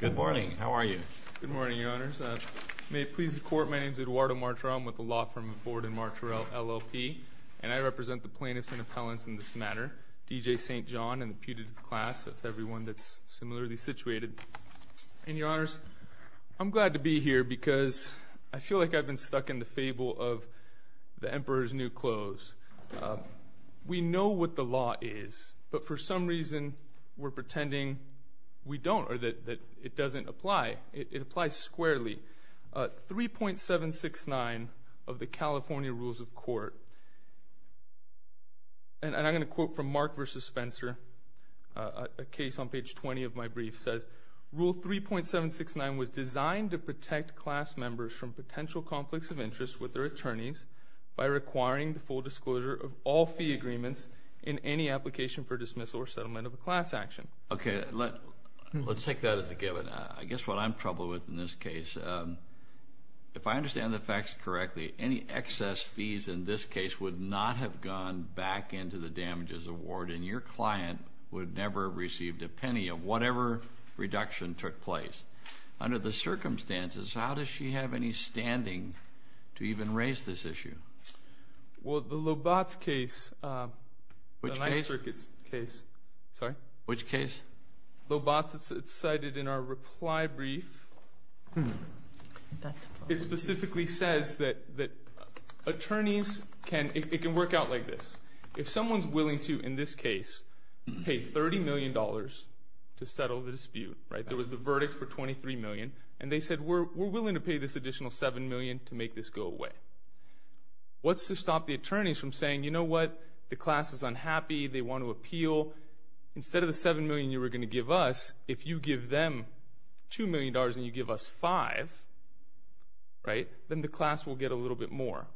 Good morning. How are you? Good morning, Your Honors. May it please the Court, my name is Eduardo Martorell. I'm with the Law Firm of Borden Martorell, LLP. And I represent the plaintiffs and appellants in this matter, D.J. St. Jon and the putative class. That's everyone that's similarly situated. And, Your Honors, I'm glad to be here because I feel like I've been stuck in the fable of the Emperor's New Clothes. We know what the law is, but for some reason we're pretending we don't or that it doesn't apply. It applies squarely. 3.769 of the California Rules of Court, and I'm going to quote from Mark v. Spencer, a case on page 20 of my brief, says, Rule 3.769 was designed to protect class members from potential conflicts of interest with their attorneys by requiring the full disclosure of all fee agreements in any application for dismissal or settlement of a class action. Okay, let's take that as a given. I guess what I'm troubled with in this case, if I understand the facts correctly, any excess fees in this case would not have gone back into the damages award, and your client would never have received a penny of whatever reduction took place. Under the circumstances, how does she have any standing to even raise this issue? Well, the Lobatz case, the Ninth Circuit's case. Which case? Lobatz. It's cited in our reply brief. It specifically says that attorneys can, it can work out like this. If someone's willing to, in this case, pay $30 million to settle the dispute, right? There was the verdict for $23 million, and they said, we're willing to pay this additional $7 million to make this go away. What's to stop the attorneys from saying, you know what, the class is unhappy, they want to appeal. Instead of the $7 million you were going to give us, if you give them $2 million and you give us $5 million, right, then the class will get a little bit more.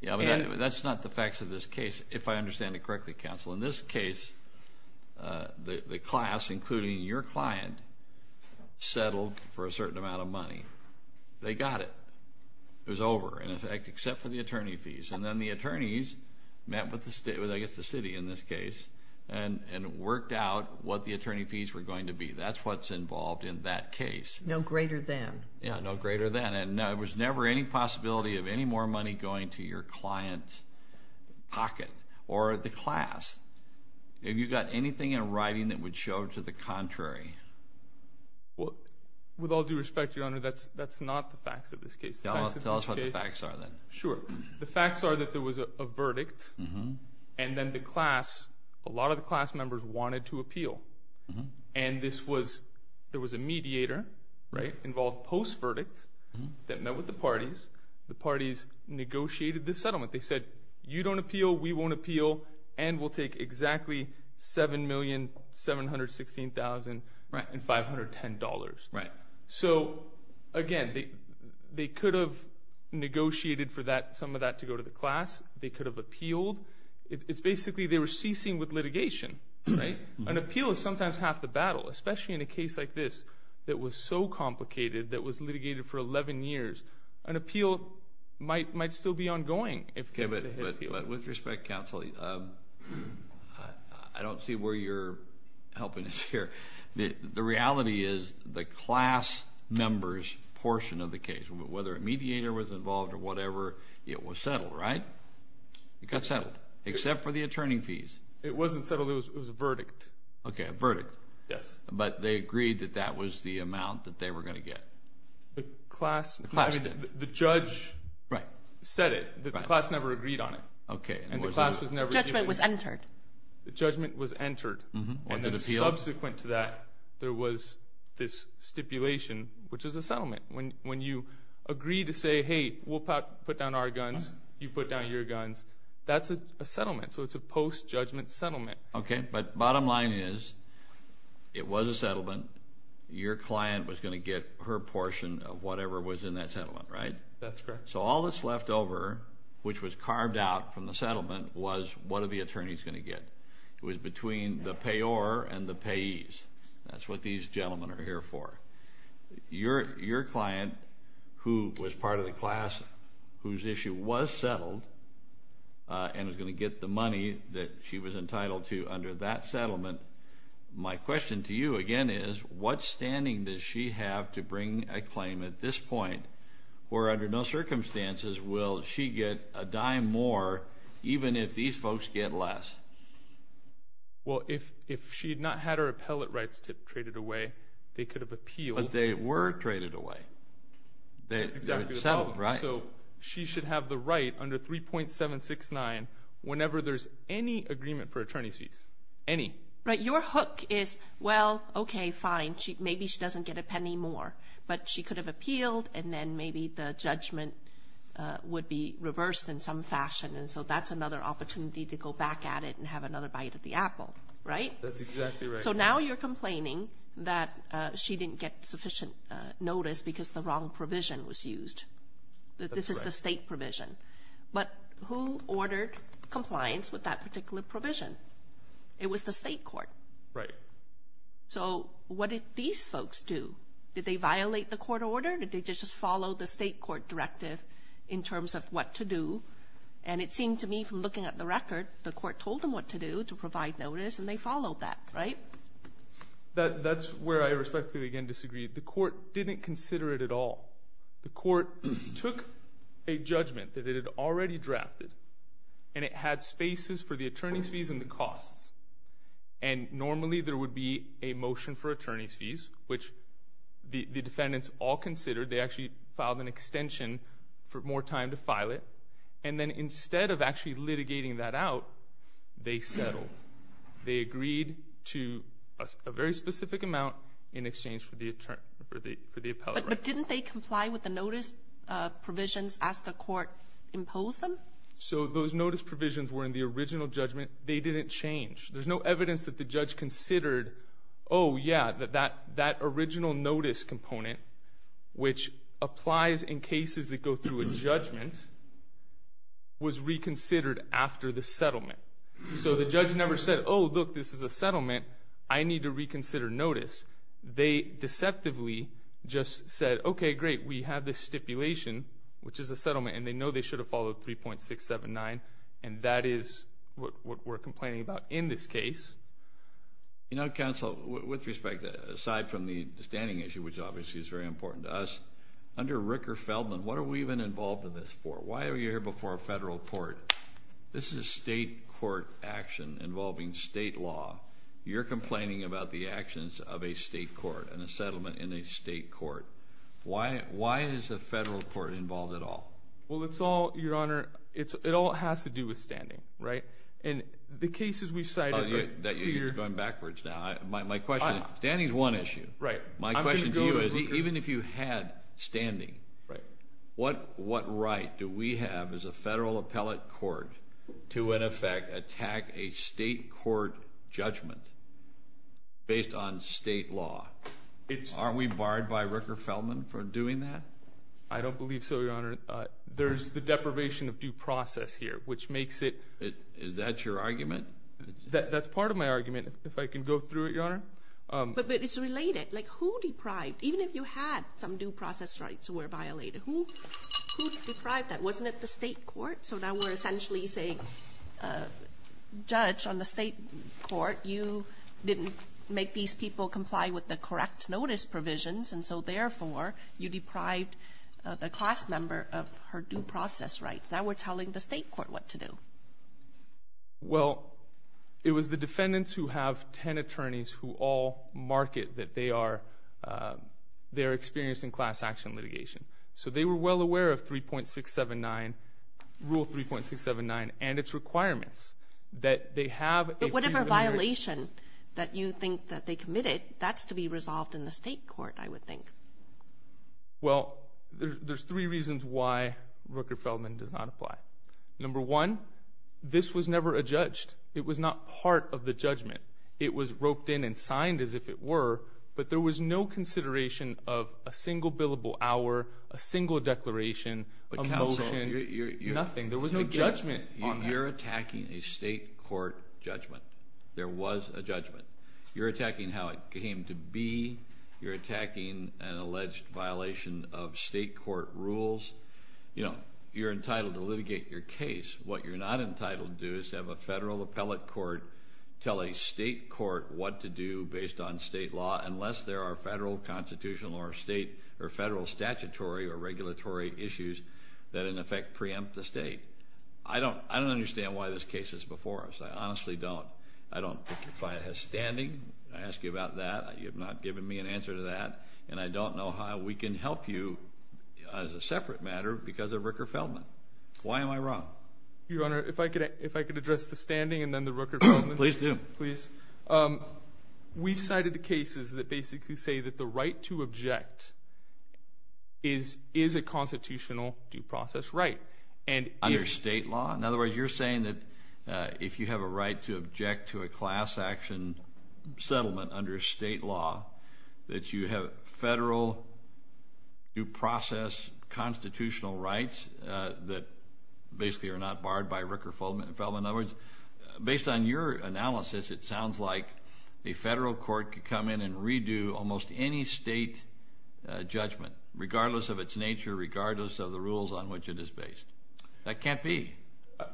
Yeah, but that's not the facts of this case, if I understand it correctly, counsel. In this case, the class, including your client, settled for a certain amount of money. They got it. It was over, in effect, except for the attorney fees. And then the attorneys met with, I guess, the city in this case, and worked out what the attorney fees were going to be. That's what's involved in that case. No greater than. Yeah, no greater than. And there was never any possibility of any more money going to your client's pocket or the class. Have you got anything in writing that would show to the contrary? Well, with all due respect, Your Honor, that's not the facts of this case. Tell us what the facts are, then. Sure. The facts are that there was a verdict, and then the class, a lot of the class members wanted to appeal. And there was a mediator involved post-verdict that met with the parties. The parties negotiated the settlement. They said, you don't appeal, we won't appeal, and we'll take exactly $7,716,510. So, again, they could have negotiated for some of that to go to the class. They could have appealed. It's basically they were ceasing with litigation. Right? An appeal is sometimes half the battle, especially in a case like this that was so complicated that was litigated for 11 years. An appeal might still be ongoing. Okay, but with respect, counsel, I don't see where you're helping us here. The reality is the class members portion of the case, whether a mediator was involved or whatever, it was settled, right? It got settled, except for the attorney fees. It wasn't settled. It was a verdict. Okay, a verdict. Yes. But they agreed that that was the amount that they were going to get. The class, the judge said it. The class never agreed on it. Okay. And the class was never given it. Judgment was entered. The judgment was entered. And then subsequent to that, there was this stipulation, which is a settlement. When you agree to say, hey, we'll put down our guns, you put down your guns, that's a settlement. So it's a post-judgment settlement. Okay, but bottom line is it was a settlement. Your client was going to get her portion of whatever was in that settlement, right? That's correct. So all that's left over, which was carved out from the settlement, was what are the attorneys going to get. It was between the payor and the payees. That's what these gentlemen are here for. Your client, who was part of the class, whose issue was settled and was going to get the money that she was entitled to under that settlement, my question to you, again, is what standing does she have to bring a claim at this point where under no circumstances will she get a dime more even if these folks get less? Well, if she had not had her appellate rights traded away, they could have appealed. But they were traded away. Exactly. They were settled, right? So she should have the right under 3.769 whenever there's any agreement for attorney's fees. Any. Right. Your hook is, well, okay, fine, maybe she doesn't get a penny more, but she could have appealed and then maybe the judgment would be reversed in some fashion. And so that's another opportunity to go back at it and have another bite of the apple, right? That's exactly right. So now you're complaining that she didn't get sufficient notice because the wrong provision was used, that this is the state provision. But who ordered compliance with that particular provision? It was the state court. Right. So what did these folks do? Did they violate the court order? Did they just follow the state court directive in terms of what to do? And it seemed to me from looking at the record, the court told them what to do to provide notice, and they followed that, right? That's where I respectfully again disagree. The court didn't consider it at all. The court took a judgment that it had already drafted, and it had spaces for the attorney's fees and the costs. And normally there would be a motion for attorney's fees, which the defendants all considered. They actually filed an extension for more time to file it. And then instead of actually litigating that out, they settled. They agreed to a very specific amount in exchange for the appellate right. But didn't they comply with the notice provisions as the court imposed them? So those notice provisions were in the original judgment. They didn't change. There's no evidence that the judge considered, oh, yeah, that that original notice component, which applies in cases that go through a judgment, was reconsidered after the settlement. So the judge never said, oh, look, this is a settlement. I need to reconsider notice. They deceptively just said, okay, great, we have this stipulation, which is a settlement, and they know they should have followed 3.679, and that is what we're complaining about in this case. You know, counsel, with respect, aside from the standing issue, which obviously is very important to us, under Ricker-Feldman, what are we even involved in this for? Why are we here before a federal court? This is a state court action involving state law. You're complaining about the actions of a state court and a settlement in a state court. Why is a federal court involved at all? Well, it's all, Your Honor, it all has to do with standing, right? And the cases we've cited are clear. You're going backwards now. My question is, standing is one issue. Right. My question to you is, even if you had standing, what right do we have as a federal appellate court to, in effect, attack a state court judgment based on state law? Aren't we barred by Ricker-Feldman for doing that? I don't believe so, Your Honor. There's the deprivation of due process here, which makes it – Is that your argument? That's part of my argument, if I can go through it, Your Honor. But it's related. Like, who deprived? Even if you had some due process rights were violated, who deprived that? Wasn't it the state court? So now we're essentially saying, Judge, on the state court, you didn't make these people comply with the correct notice provisions, and so, therefore, you deprived the class member of her due process rights. Now we're telling the state court what to do. Well, it was the defendants who have 10 attorneys who all market that they are experiencing class action litigation. So they were well aware of 3.679, Rule 3.679, and its requirements that they have a freedom of marriage. But whatever violation that you think that they committed, that's to be resolved in the state court, I would think. Well, there's three reasons why Ricker-Feldman does not apply. Number one, this was never adjudged. It was not part of the judgment. It was roped in and signed as if it were, but there was no consideration of a single billable hour, a single declaration, a motion, nothing. There was no judgment on that. You're attacking a state court judgment. There was a judgment. You're attacking how it came to be. You're attacking an alleged violation of state court rules. You're entitled to litigate your case. What you're not entitled to do is to have a federal appellate court tell a state court what to do based on state law unless there are federal constitutional or state or federal statutory or regulatory issues that in effect preempt the state. I don't understand why this case is before us. I honestly don't. I don't think your client has standing. I ask you about that. You have not given me an answer to that, and I don't know how we can help you as a separate matter because of Ricker-Feldman. Why am I wrong? Your Honor, if I could address the standing and then the Ricker-Feldman. Please do. We've cited the cases that basically say that the right to object is a constitutional due process right. Under state law? In other words, you're saying that if you have a right to object to a class action settlement under state law, that you have federal due process constitutional rights that basically are not barred by Ricker-Feldman. In other words, based on your analysis, it sounds like a federal court could come in and redo almost any state judgment regardless of its nature, regardless of the rules on which it is based. That can't be.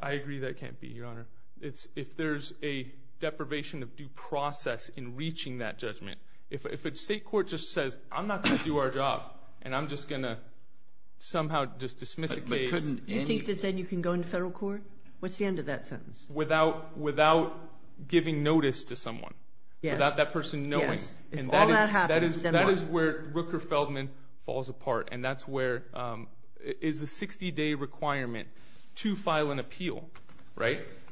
I agree that it can't be, Your Honor. If there's a deprivation of due process in reaching that judgment, if a state court just says I'm not going to do our job and I'm just going to somehow just dismiss it. You think that then you can go into federal court? What's the end of that sentence? Without giving notice to someone, without that person knowing. Yes. If all that happens, then what? That is where Ricker-Feldman falls apart, and that's where it is a 60-day requirement to file an appeal.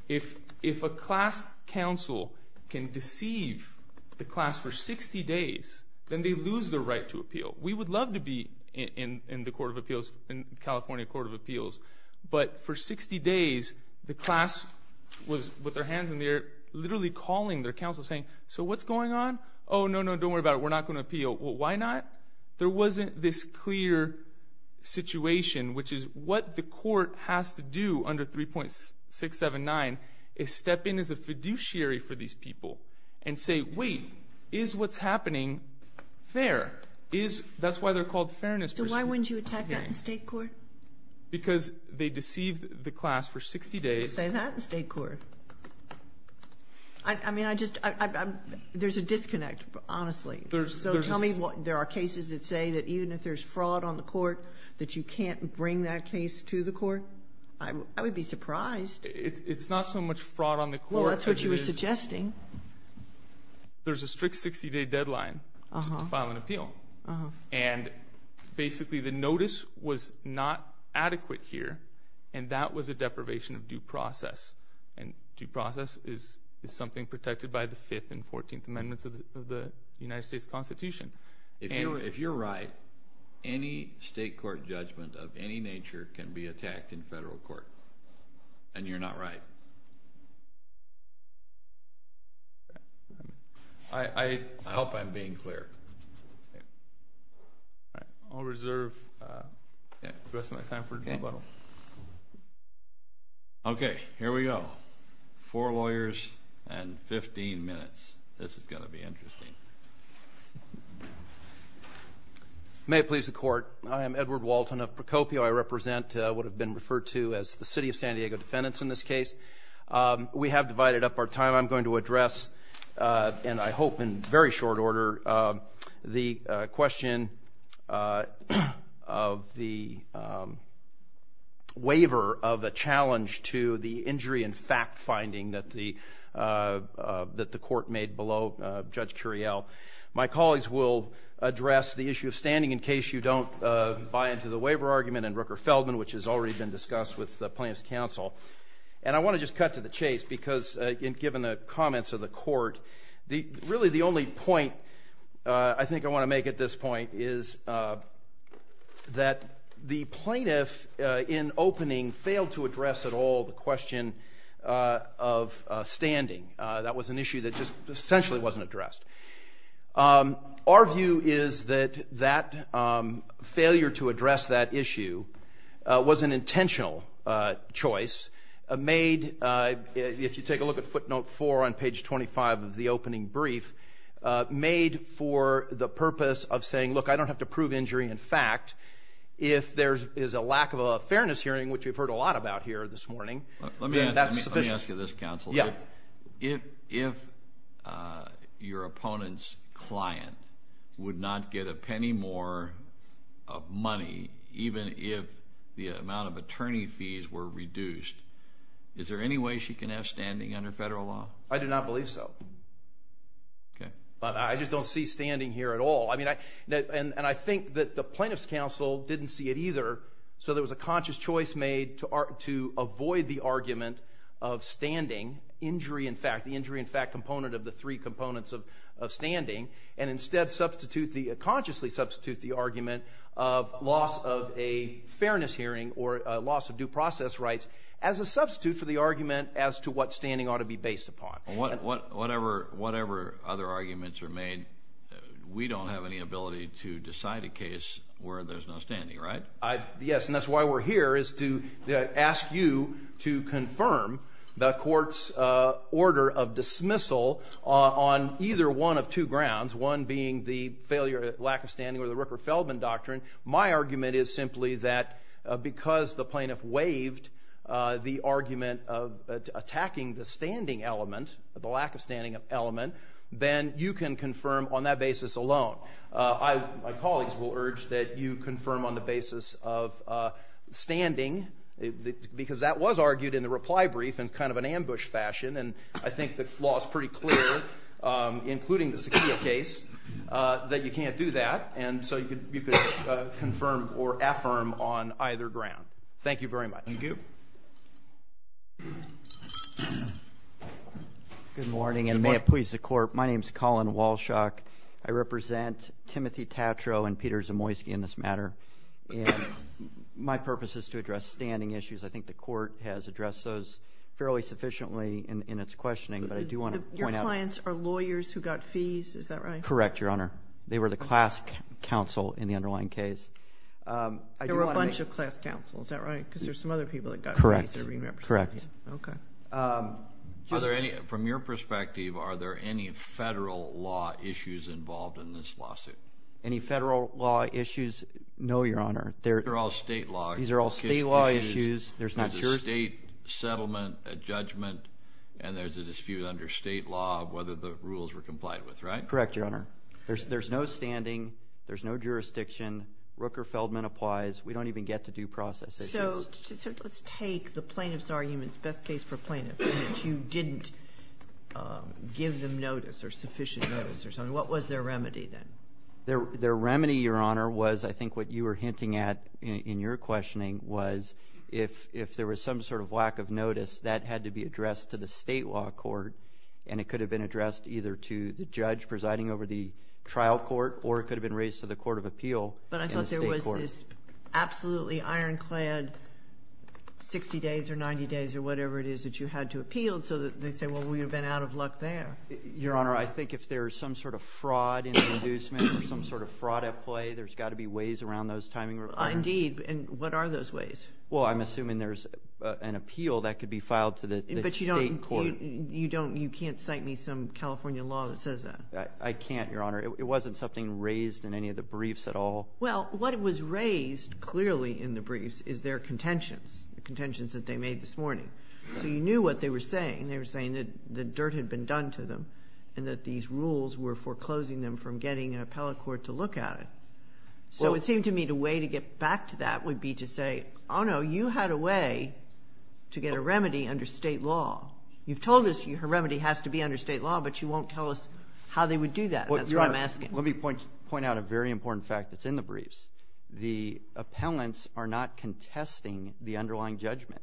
If a class counsel can deceive the class for 60 days, then they lose their right to appeal. We would love to be in the California Court of Appeals, but for 60 days the class was with their hands in the air literally calling their counsel saying, so what's going on? Oh, no, no, don't worry about it. We're not going to appeal. Why not? There wasn't this clear situation, which is what the court has to do under 3.679 is step in as a fiduciary for these people and say, wait, is what's happening fair? That's why they're called fairness proceedings. So why wouldn't you attack that in state court? Because they deceived the class for 60 days. You could say that in state court. I mean, I just — there's a disconnect, honestly. So tell me there are cases that say that even if there's fraud on the court, that you can't bring that case to the court? I would be surprised. It's not so much fraud on the court. Well, that's what you were suggesting. There's a strict 60-day deadline to file an appeal. And basically the notice was not adequate here, and that was a deprivation of due process. And due process is something protected by the Fifth and Fourteenth Amendments of the United States Constitution. If you're right, any state court judgment of any nature can be attacked in federal court, and you're not right. I hope I'm being clear. I'll reserve the rest of my time for rebuttal. Okay, here we go. Four lawyers and 15 minutes. This is going to be interesting. May it please the Court. I am Edward Walton of Procopio. I represent what have been referred to as the city of San Diego defendants in this case. We have divided up our time. I'm going to address, and I hope in very short order, the question of the waiver of a challenge to the injury and fact-finding that the court made below Judge Curiel. My colleagues will address the issue of standing, in case you don't buy into the waiver argument, and Rooker-Feldman, which has already been discussed with plaintiff's counsel. And I want to just cut to the chase, because given the comments of the court, really the only point I think I want to make at this point is that the plaintiff, in opening, failed to address at all the question of standing. That was an issue that just essentially wasn't addressed. Our view is that that failure to address that issue was an intentional choice made, if you take a look at footnote four on page 25 of the opening brief, made for the purpose of saying, look, I don't have to prove injury and fact. If there is a lack of a fairness hearing, which we've heard a lot about here this morning, that's sufficient. Let me ask you this, counsel. Yeah. If your opponent's client would not get a penny more money, even if the amount of attorney fees were reduced, is there any way she can have standing under federal law? I do not believe so. Okay. I just don't see standing here at all. And I think that the plaintiff's counsel didn't see it either, so there was a conscious choice made to avoid the argument of standing, injury and fact, the injury and fact component of the three components of standing, and instead consciously substitute the argument of loss of a fairness hearing or loss of due process rights as a substitute for the argument as to what standing ought to be based upon. Whatever other arguments are made, we don't have any ability to decide a case where there's no standing, right? Yes, and that's why we're here is to ask you to confirm the court's order of dismissal on either one of two grounds, one being the failure or lack of standing or the Rooker-Feldman Doctrine. My argument is simply that because the plaintiff waived the argument of attacking the standing element, the lack of standing element, then you can confirm on that basis alone. My colleagues will urge that you confirm on the basis of standing, because that was argued in the reply brief in kind of an ambush fashion, and I think the law is pretty clear, including the Sakia case, that you can't do that. And so you could confirm or affirm on either ground. Thank you very much. Thank you. Good morning, and may it please the Court. My name is Colin Walshok. I represent Timothy Tatro and Peter Zamoyski in this matter, and my purpose is to address standing issues. I think the Court has addressed those fairly sufficiently in its questioning, but I do want to point out. Your clients are lawyers who got fees. Is that right? Correct, Your Honor. They were the class counsel in the underlying case. There were a bunch of class counsel. Is that right? Because there's some other people that got fees that are being represented. Correct. Okay. From your perspective, are there any federal law issues involved in this lawsuit? Any federal law issues? No, Your Honor. They're all state law. These are all state law issues. There's a state settlement, a judgment, and there's a dispute under state law of whether the rules were complied with, right? Correct, Your Honor. There's no standing. There's no jurisdiction. Rooker-Feldman applies. We don't even get to due process issues. So let's take the plaintiff's argument, best case for plaintiff, that you didn't give them notice or sufficient notice or something. What was their remedy then? Their remedy, Your Honor, was I think what you were hinting at in your questioning was if there was some sort of lack of notice, that had to be addressed to the state law court, and it could have been addressed either to the judge presiding over the trial court or it could have been raised to the court of appeal in the state court. It was this absolutely ironclad 60 days or 90 days or whatever it is that you had to appeal so that they'd say, well, we've been out of luck there. Your Honor, I think if there's some sort of fraud in the inducement or some sort of fraud at play, there's got to be ways around those timing requirements. Indeed. And what are those ways? Well, I'm assuming there's an appeal that could be filed to the state court. But you can't cite me some California law that says that. I can't, Your Honor. It wasn't something raised in any of the briefs at all. Well, what was raised clearly in the briefs is their contentions, the contentions that they made this morning. So you knew what they were saying. They were saying that the dirt had been done to them and that these rules were foreclosing them from getting an appellate court to look at it. So it seemed to me the way to get back to that would be to say, oh, no, you had a way to get a remedy under state law. You've told us a remedy has to be under state law, but you won't tell us how they would do that. That's what I'm asking. Let me point out a very important fact that's in the briefs. The appellants are not contesting the underlying judgment.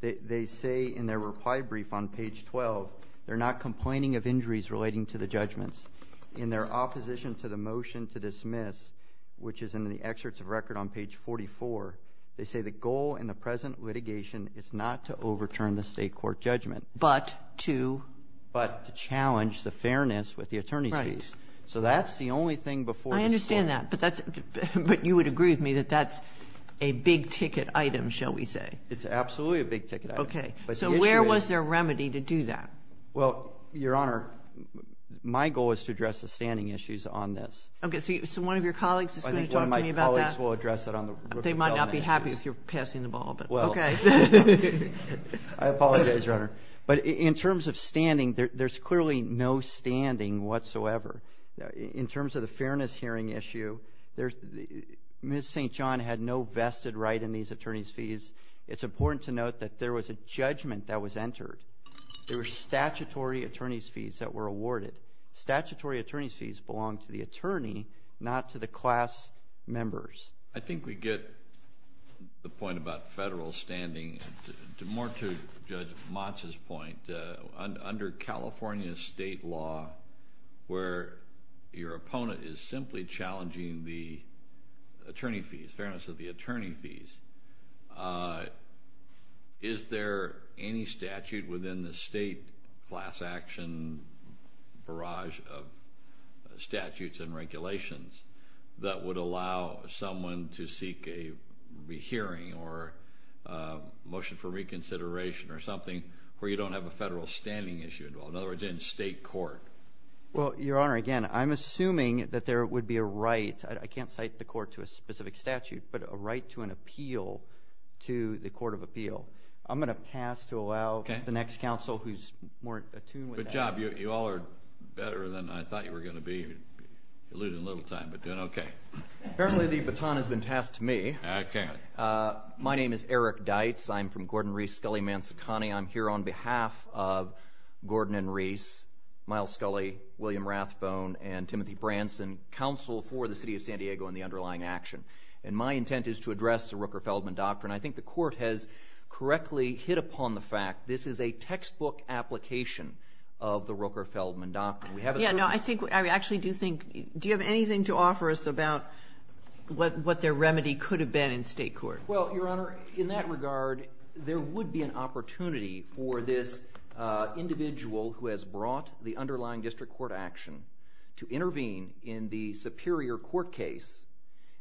They say in their reply brief on page 12, they're not complaining of injuries relating to the judgments. In their opposition to the motion to dismiss, which is in the excerpts of record on page 44, they say the goal in the present litigation is not to overturn the state court judgment. But to? But to challenge the fairness with the attorney's case. So that's the only thing before the state court. I understand that. But you would agree with me that that's a big-ticket item, shall we say. It's absolutely a big-ticket item. Okay. So where was their remedy to do that? Well, Your Honor, my goal is to address the standing issues on this. Okay. So one of your colleagues is going to talk to me about that? I think one of my colleagues will address it on the roof of the element issues. They might not be happy if you're passing the ball, but okay. Well, I apologize, Your Honor. But in terms of standing, there's clearly no standing whatsoever. In terms of the fairness hearing issue, Ms. St. John had no vested right in these attorney's fees. It's important to note that there was a judgment that was entered. There were statutory attorney's fees that were awarded. Statutory attorney's fees belong to the attorney, not to the class members. I think we get the point about federal standing. More to Judge Motz's point, under California state law, where your opponent is simply challenging the attorney fees, fairness of the attorney fees, is there any statute within the state class action barrage of statutes and regulations that would allow someone to seek a hearing or motion for reconsideration or something where you don't have a federal standing issue involved, in other words, in state court? Well, Your Honor, again, I'm assuming that there would be a right. I can't cite the court to a specific statute, but a right to an appeal to the court of appeal. I'm going to pass to allow the next counsel who's more attuned with that. Good job. You all are better than I thought you were going to be. You eluded a little time, but then okay. Apparently the baton has been passed to me. I can't. My name is Eric Deitz. I'm from Gordon, Reese, Scully, Mansacani. I'm here on behalf of Gordon and Reese, Miles Scully, William Rathbone, and Timothy Branson, counsel for the city of San Diego and the underlying action. And my intent is to address the Rooker-Feldman doctrine. I think the court has correctly hit upon the fact that this is a textbook application of the Rooker-Feldman doctrine. Do you have anything to offer us about what their remedy could have been in state court? Well, Your Honor, in that regard, there would be an opportunity for this individual who has brought the underlying district court action to intervene in the superior court case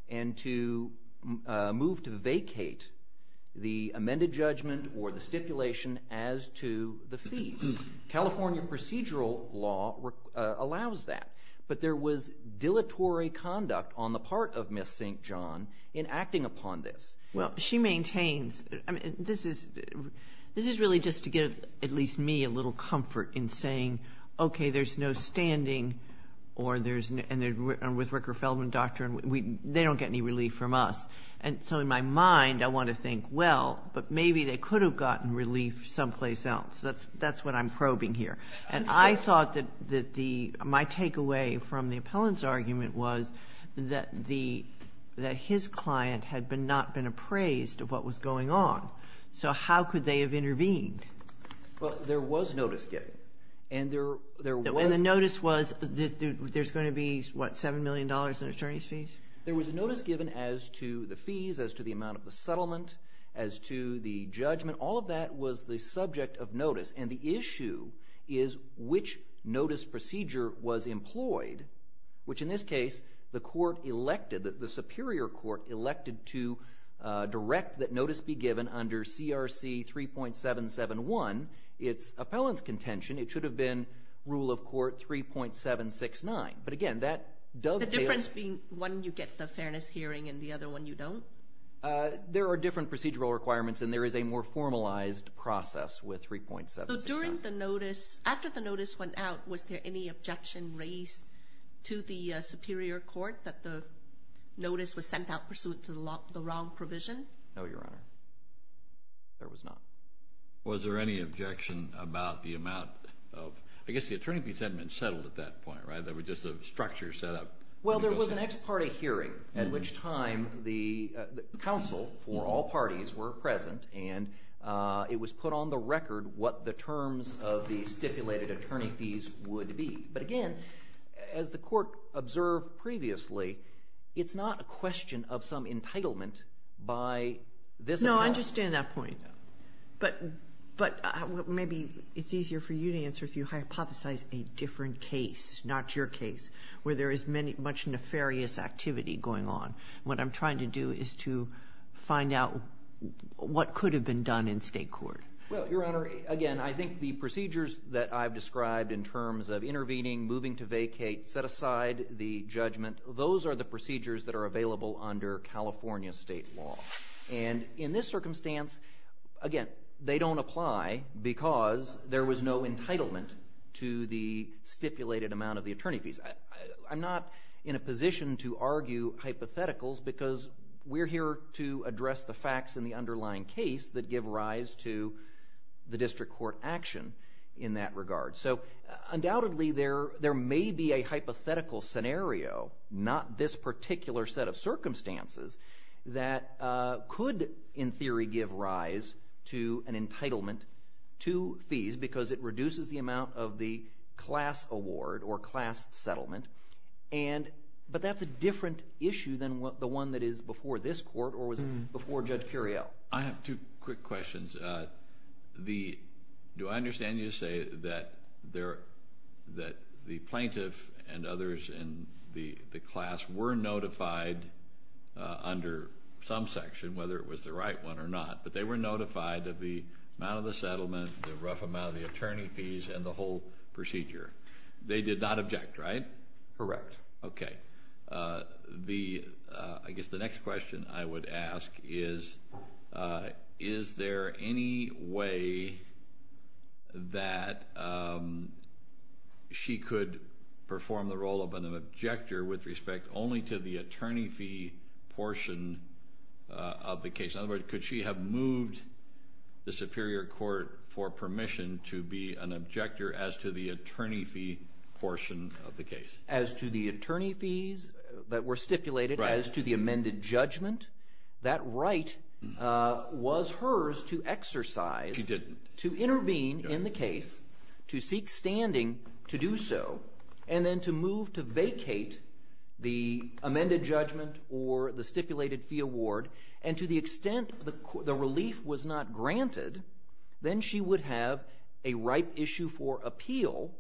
and to move to vacate the amended judgment or the stipulation as to the fees. California procedural law allows that. But there was dilatory conduct on the part of Ms. St. John in acting upon this. Well, she maintains this is really just to give at least me a little comfort in saying, okay, there's no standing with Rooker-Feldman doctrine. They don't get any relief from us. And so in my mind, I want to think, well, but maybe they could have gotten relief someplace else. That's what I'm probing here. And I thought that my takeaway from the appellant's argument was that his client had not been appraised of what was going on. So how could they have intervened? Well, there was notice given. And there was. And the notice was that there's going to be, what, $7 million in attorney's fees? There was a notice given as to the fees, as to the amount of the settlement, as to the judgment. All of that was the subject of notice. And the issue is which notice procedure was employed, which in this case the court elected, the superior court elected to direct that notice be given under CRC 3.771. It's appellant's contention. It should have been rule of court 3.769. But, again, that dovetails. The difference being one you get the fairness hearing and the other one you don't? There are different procedural requirements, and there is a more formalized process with 3.769. After the notice went out, was there any objection raised to the superior court that the notice was sent out pursuant to the wrong provision? No, Your Honor. There was not. Was there any objection about the amount of, I guess the attorney fees hadn't been settled at that point, right? There was just a structure set up. Well, there was an ex parte hearing at which time the counsel for all parties were present. And it was put on the record what the terms of the stipulated attorney fees would be. But, again, as the court observed previously, it's not a question of some entitlement by this appellant. No, I understand that point. But maybe it's easier for you to answer if you hypothesize a different case, not your case, where there is much nefarious activity going on. What I'm trying to do is to find out what could have been done in state court. Well, Your Honor, again, I think the procedures that I've described in terms of intervening, moving to vacate, set aside the judgment, those are the procedures that are available under California state law. And in this circumstance, again, they don't apply because there was no entitlement to the stipulated amount of the attorney fees. I'm not in a position to argue hypotheticals because we're here to address the facts in the underlying case that give rise to the district court action in that regard. So, undoubtedly, there may be a hypothetical scenario, not this particular set of circumstances, that could, in theory, give rise to an entitlement to fees because it reduces the amount of the class award or class settlement. But that's a different issue than the one that is before this court or was before Judge Curiel. I have two quick questions. Do I understand you to say that the plaintiff and others in the class were notified under some section, whether it was the right one or not, but they were notified of the amount of the settlement, the rough amount of the attorney fees, and the whole procedure? They did not object, right? Correct. Okay. I guess the next question I would ask is, is there any way that she could perform the role of an objector with respect only to the attorney fee portion of the case? In other words, could she have moved the superior court for permission to be an objector as to the attorney fee portion of the case? As to the attorney fees that were stipulated as to the amended judgment? That right was hers to exercise. She didn't. To intervene in the case, to seek standing to do so, and then to move to vacate the amended judgment or the stipulated fee award and to the extent the relief was not granted, then she would have a ripe issue for appeal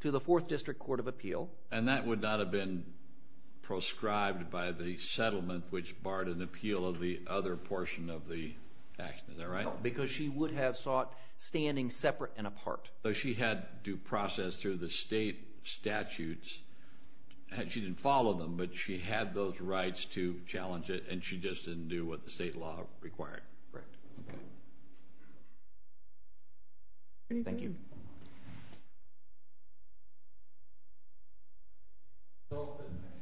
to the Fourth District Court of Appeal. And that would not have been proscribed by the settlement, which barred an appeal of the other portion of the action. Is that right? No, because she would have sought standing separate and apart. So she had to process through the state statutes. She didn't follow them, but she had those rights to challenge it, and she just didn't do what the state law required. Right. Thank you. I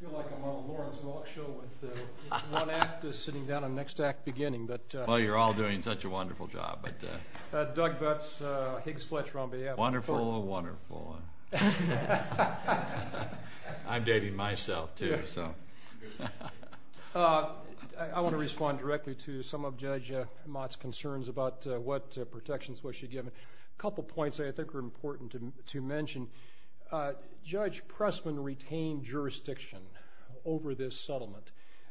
feel like I'm on a Lawrence Galk show with one act sitting down and the next act beginning. Well, you're all doing such a wonderful job. Doug Butts, Higgs Fletch, Romney. Wonderful, wonderful. I'm dating myself, too, so. I want to respond directly to some of Judge Mott's concerns about what protections was she given. A couple points I think are important to mention. Judge Pressman retained jurisdiction over this settlement.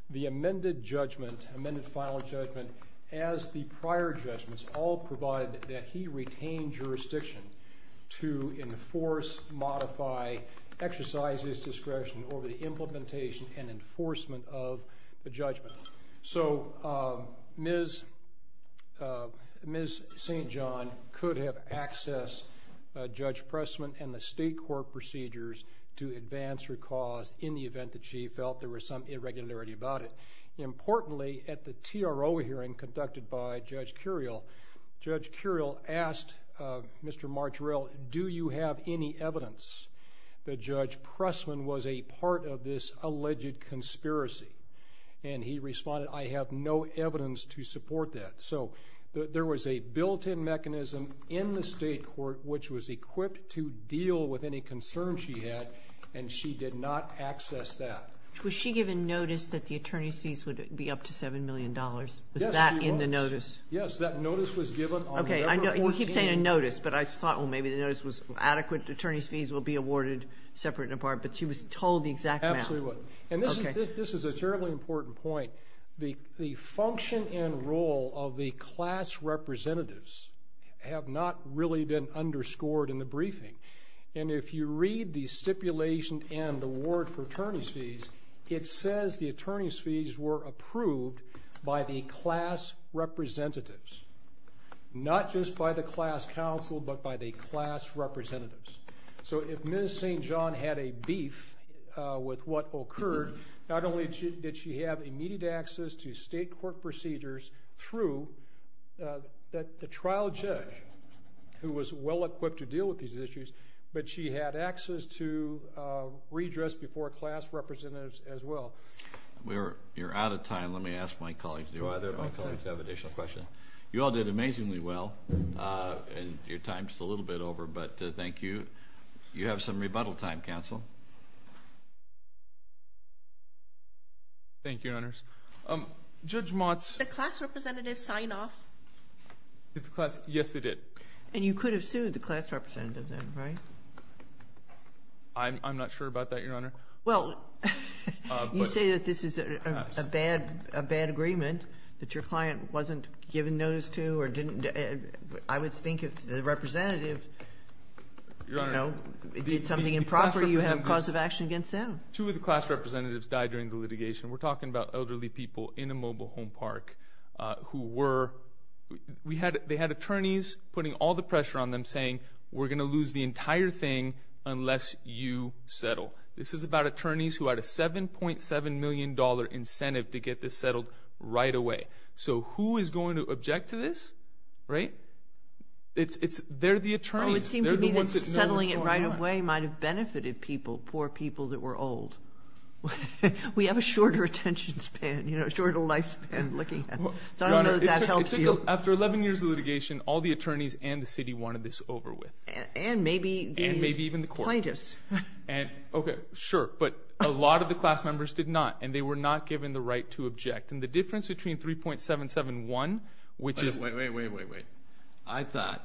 The amended judgment, amended final judgment, as the prior judgments all provided that he retained jurisdiction to enforce, modify, exercise his discretion over the implementation and enforcement of the judgment. So Ms. St. John could have accessed Judge Pressman and the state court procedures to advance her cause in the event that she felt there was some irregularity about it. Importantly, at the TRO hearing conducted by Judge Curiel, Judge Curiel asked Mr. Martirell, do you have any evidence that Judge Pressman was a part of this alleged conspiracy? And he responded, I have no evidence to support that. So there was a built-in mechanism in the state court which was equipped to deal with any concerns she had, and she did not access that. Was she given notice that the attorney's fees would be up to $7 million? Yes, she was. Was that in the notice? Yes, that notice was given on November 14th. Okay, well, he's saying a notice, but I thought, well, maybe the notice was adequate, attorney's fees will be awarded separate and apart, but she was told the exact amount. Absolutely was. Okay. And this is a terribly important point. The function and role of the class representatives have not really been underscored in the briefing, and if you read the stipulation and award for attorney's fees, it says the attorney's fees were approved by the class representatives, not just by the class counsel, but by the class representatives. So if Ms. St. John had a beef with what occurred, not only did she have immediate access to state court procedures through the trial judge, who was well-equipped to deal with these issues, but she had access to redress before class representatives as well. You're out of time. Let me ask my colleagues. Do either of my colleagues have additional questions? You all did amazingly well, and your time is a little bit over, but thank you. You have some rebuttal time, counsel. Thank you, Your Honors. Judge Motz. Did the class representatives sign off? Yes, they did. And you could have sued the class representative then, right? I'm not sure about that, Your Honor. Well, you say that this is a bad agreement that your client wasn't given notice to or didn't. I would think if the representative, you know, did something improper, you have cause of action against them. Two of the class representatives died during the litigation. We're talking about elderly people in a mobile home park who were – they had attorneys putting all the pressure on them saying, we're going to lose the entire thing unless you settle. This is about attorneys who had a $7.7 million incentive to get this settled right away. So who is going to object to this, right? They're the attorneys. It would seem to me that settling it right away might have benefited people, poor people that were old. We have a shorter attention span, you know, a shorter lifespan looking at it. So I don't know if that helps you. Your Honor, it took – after 11 years of litigation, all the attorneys and the city wanted this over with. And maybe the plaintiffs. And maybe even the court. Okay, sure. But a lot of the class members did not, and they were not given the right to object. And the difference between 3.771, which is – Wait, wait, wait, wait, wait. I thought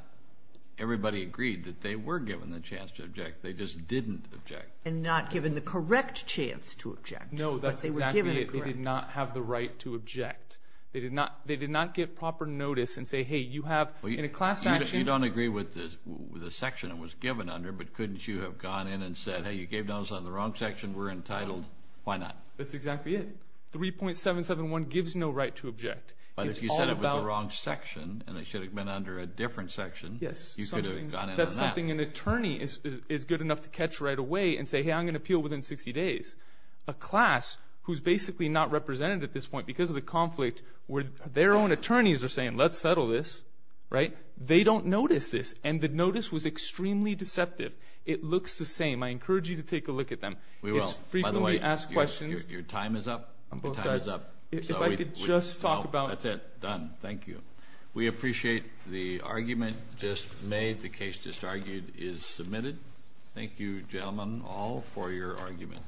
everybody agreed that they were given the chance to object. They just didn't object. And not given the correct chance to object. No, that's exactly it. But they were given a correct chance. They did not have the right to object. They did not give proper notice and say, hey, you have – in a class action. You don't agree with the section it was given under, but couldn't you have gone in and said, hey, you gave notice on the wrong section. We're entitled. Why not? That's exactly it. 3.771 gives no right to object. But if you said it was the wrong section and it should have been under a different section, you could have gone in on that. I don't think an attorney is good enough to catch right away and say, hey, I'm going to appeal within 60 days. A class who's basically not represented at this point because of the conflict where their own attorneys are saying, let's settle this, right, they don't notice this, and the notice was extremely deceptive. It looks the same. I encourage you to take a look at them. We will, by the way. It's frequently asked questions. Your time is up. I'm both sides. If I could just talk about – That's it. Done. Thank you. We appreciate the argument just made. The case just argued is submitted. Thank you, gentlemen, all, for your argument.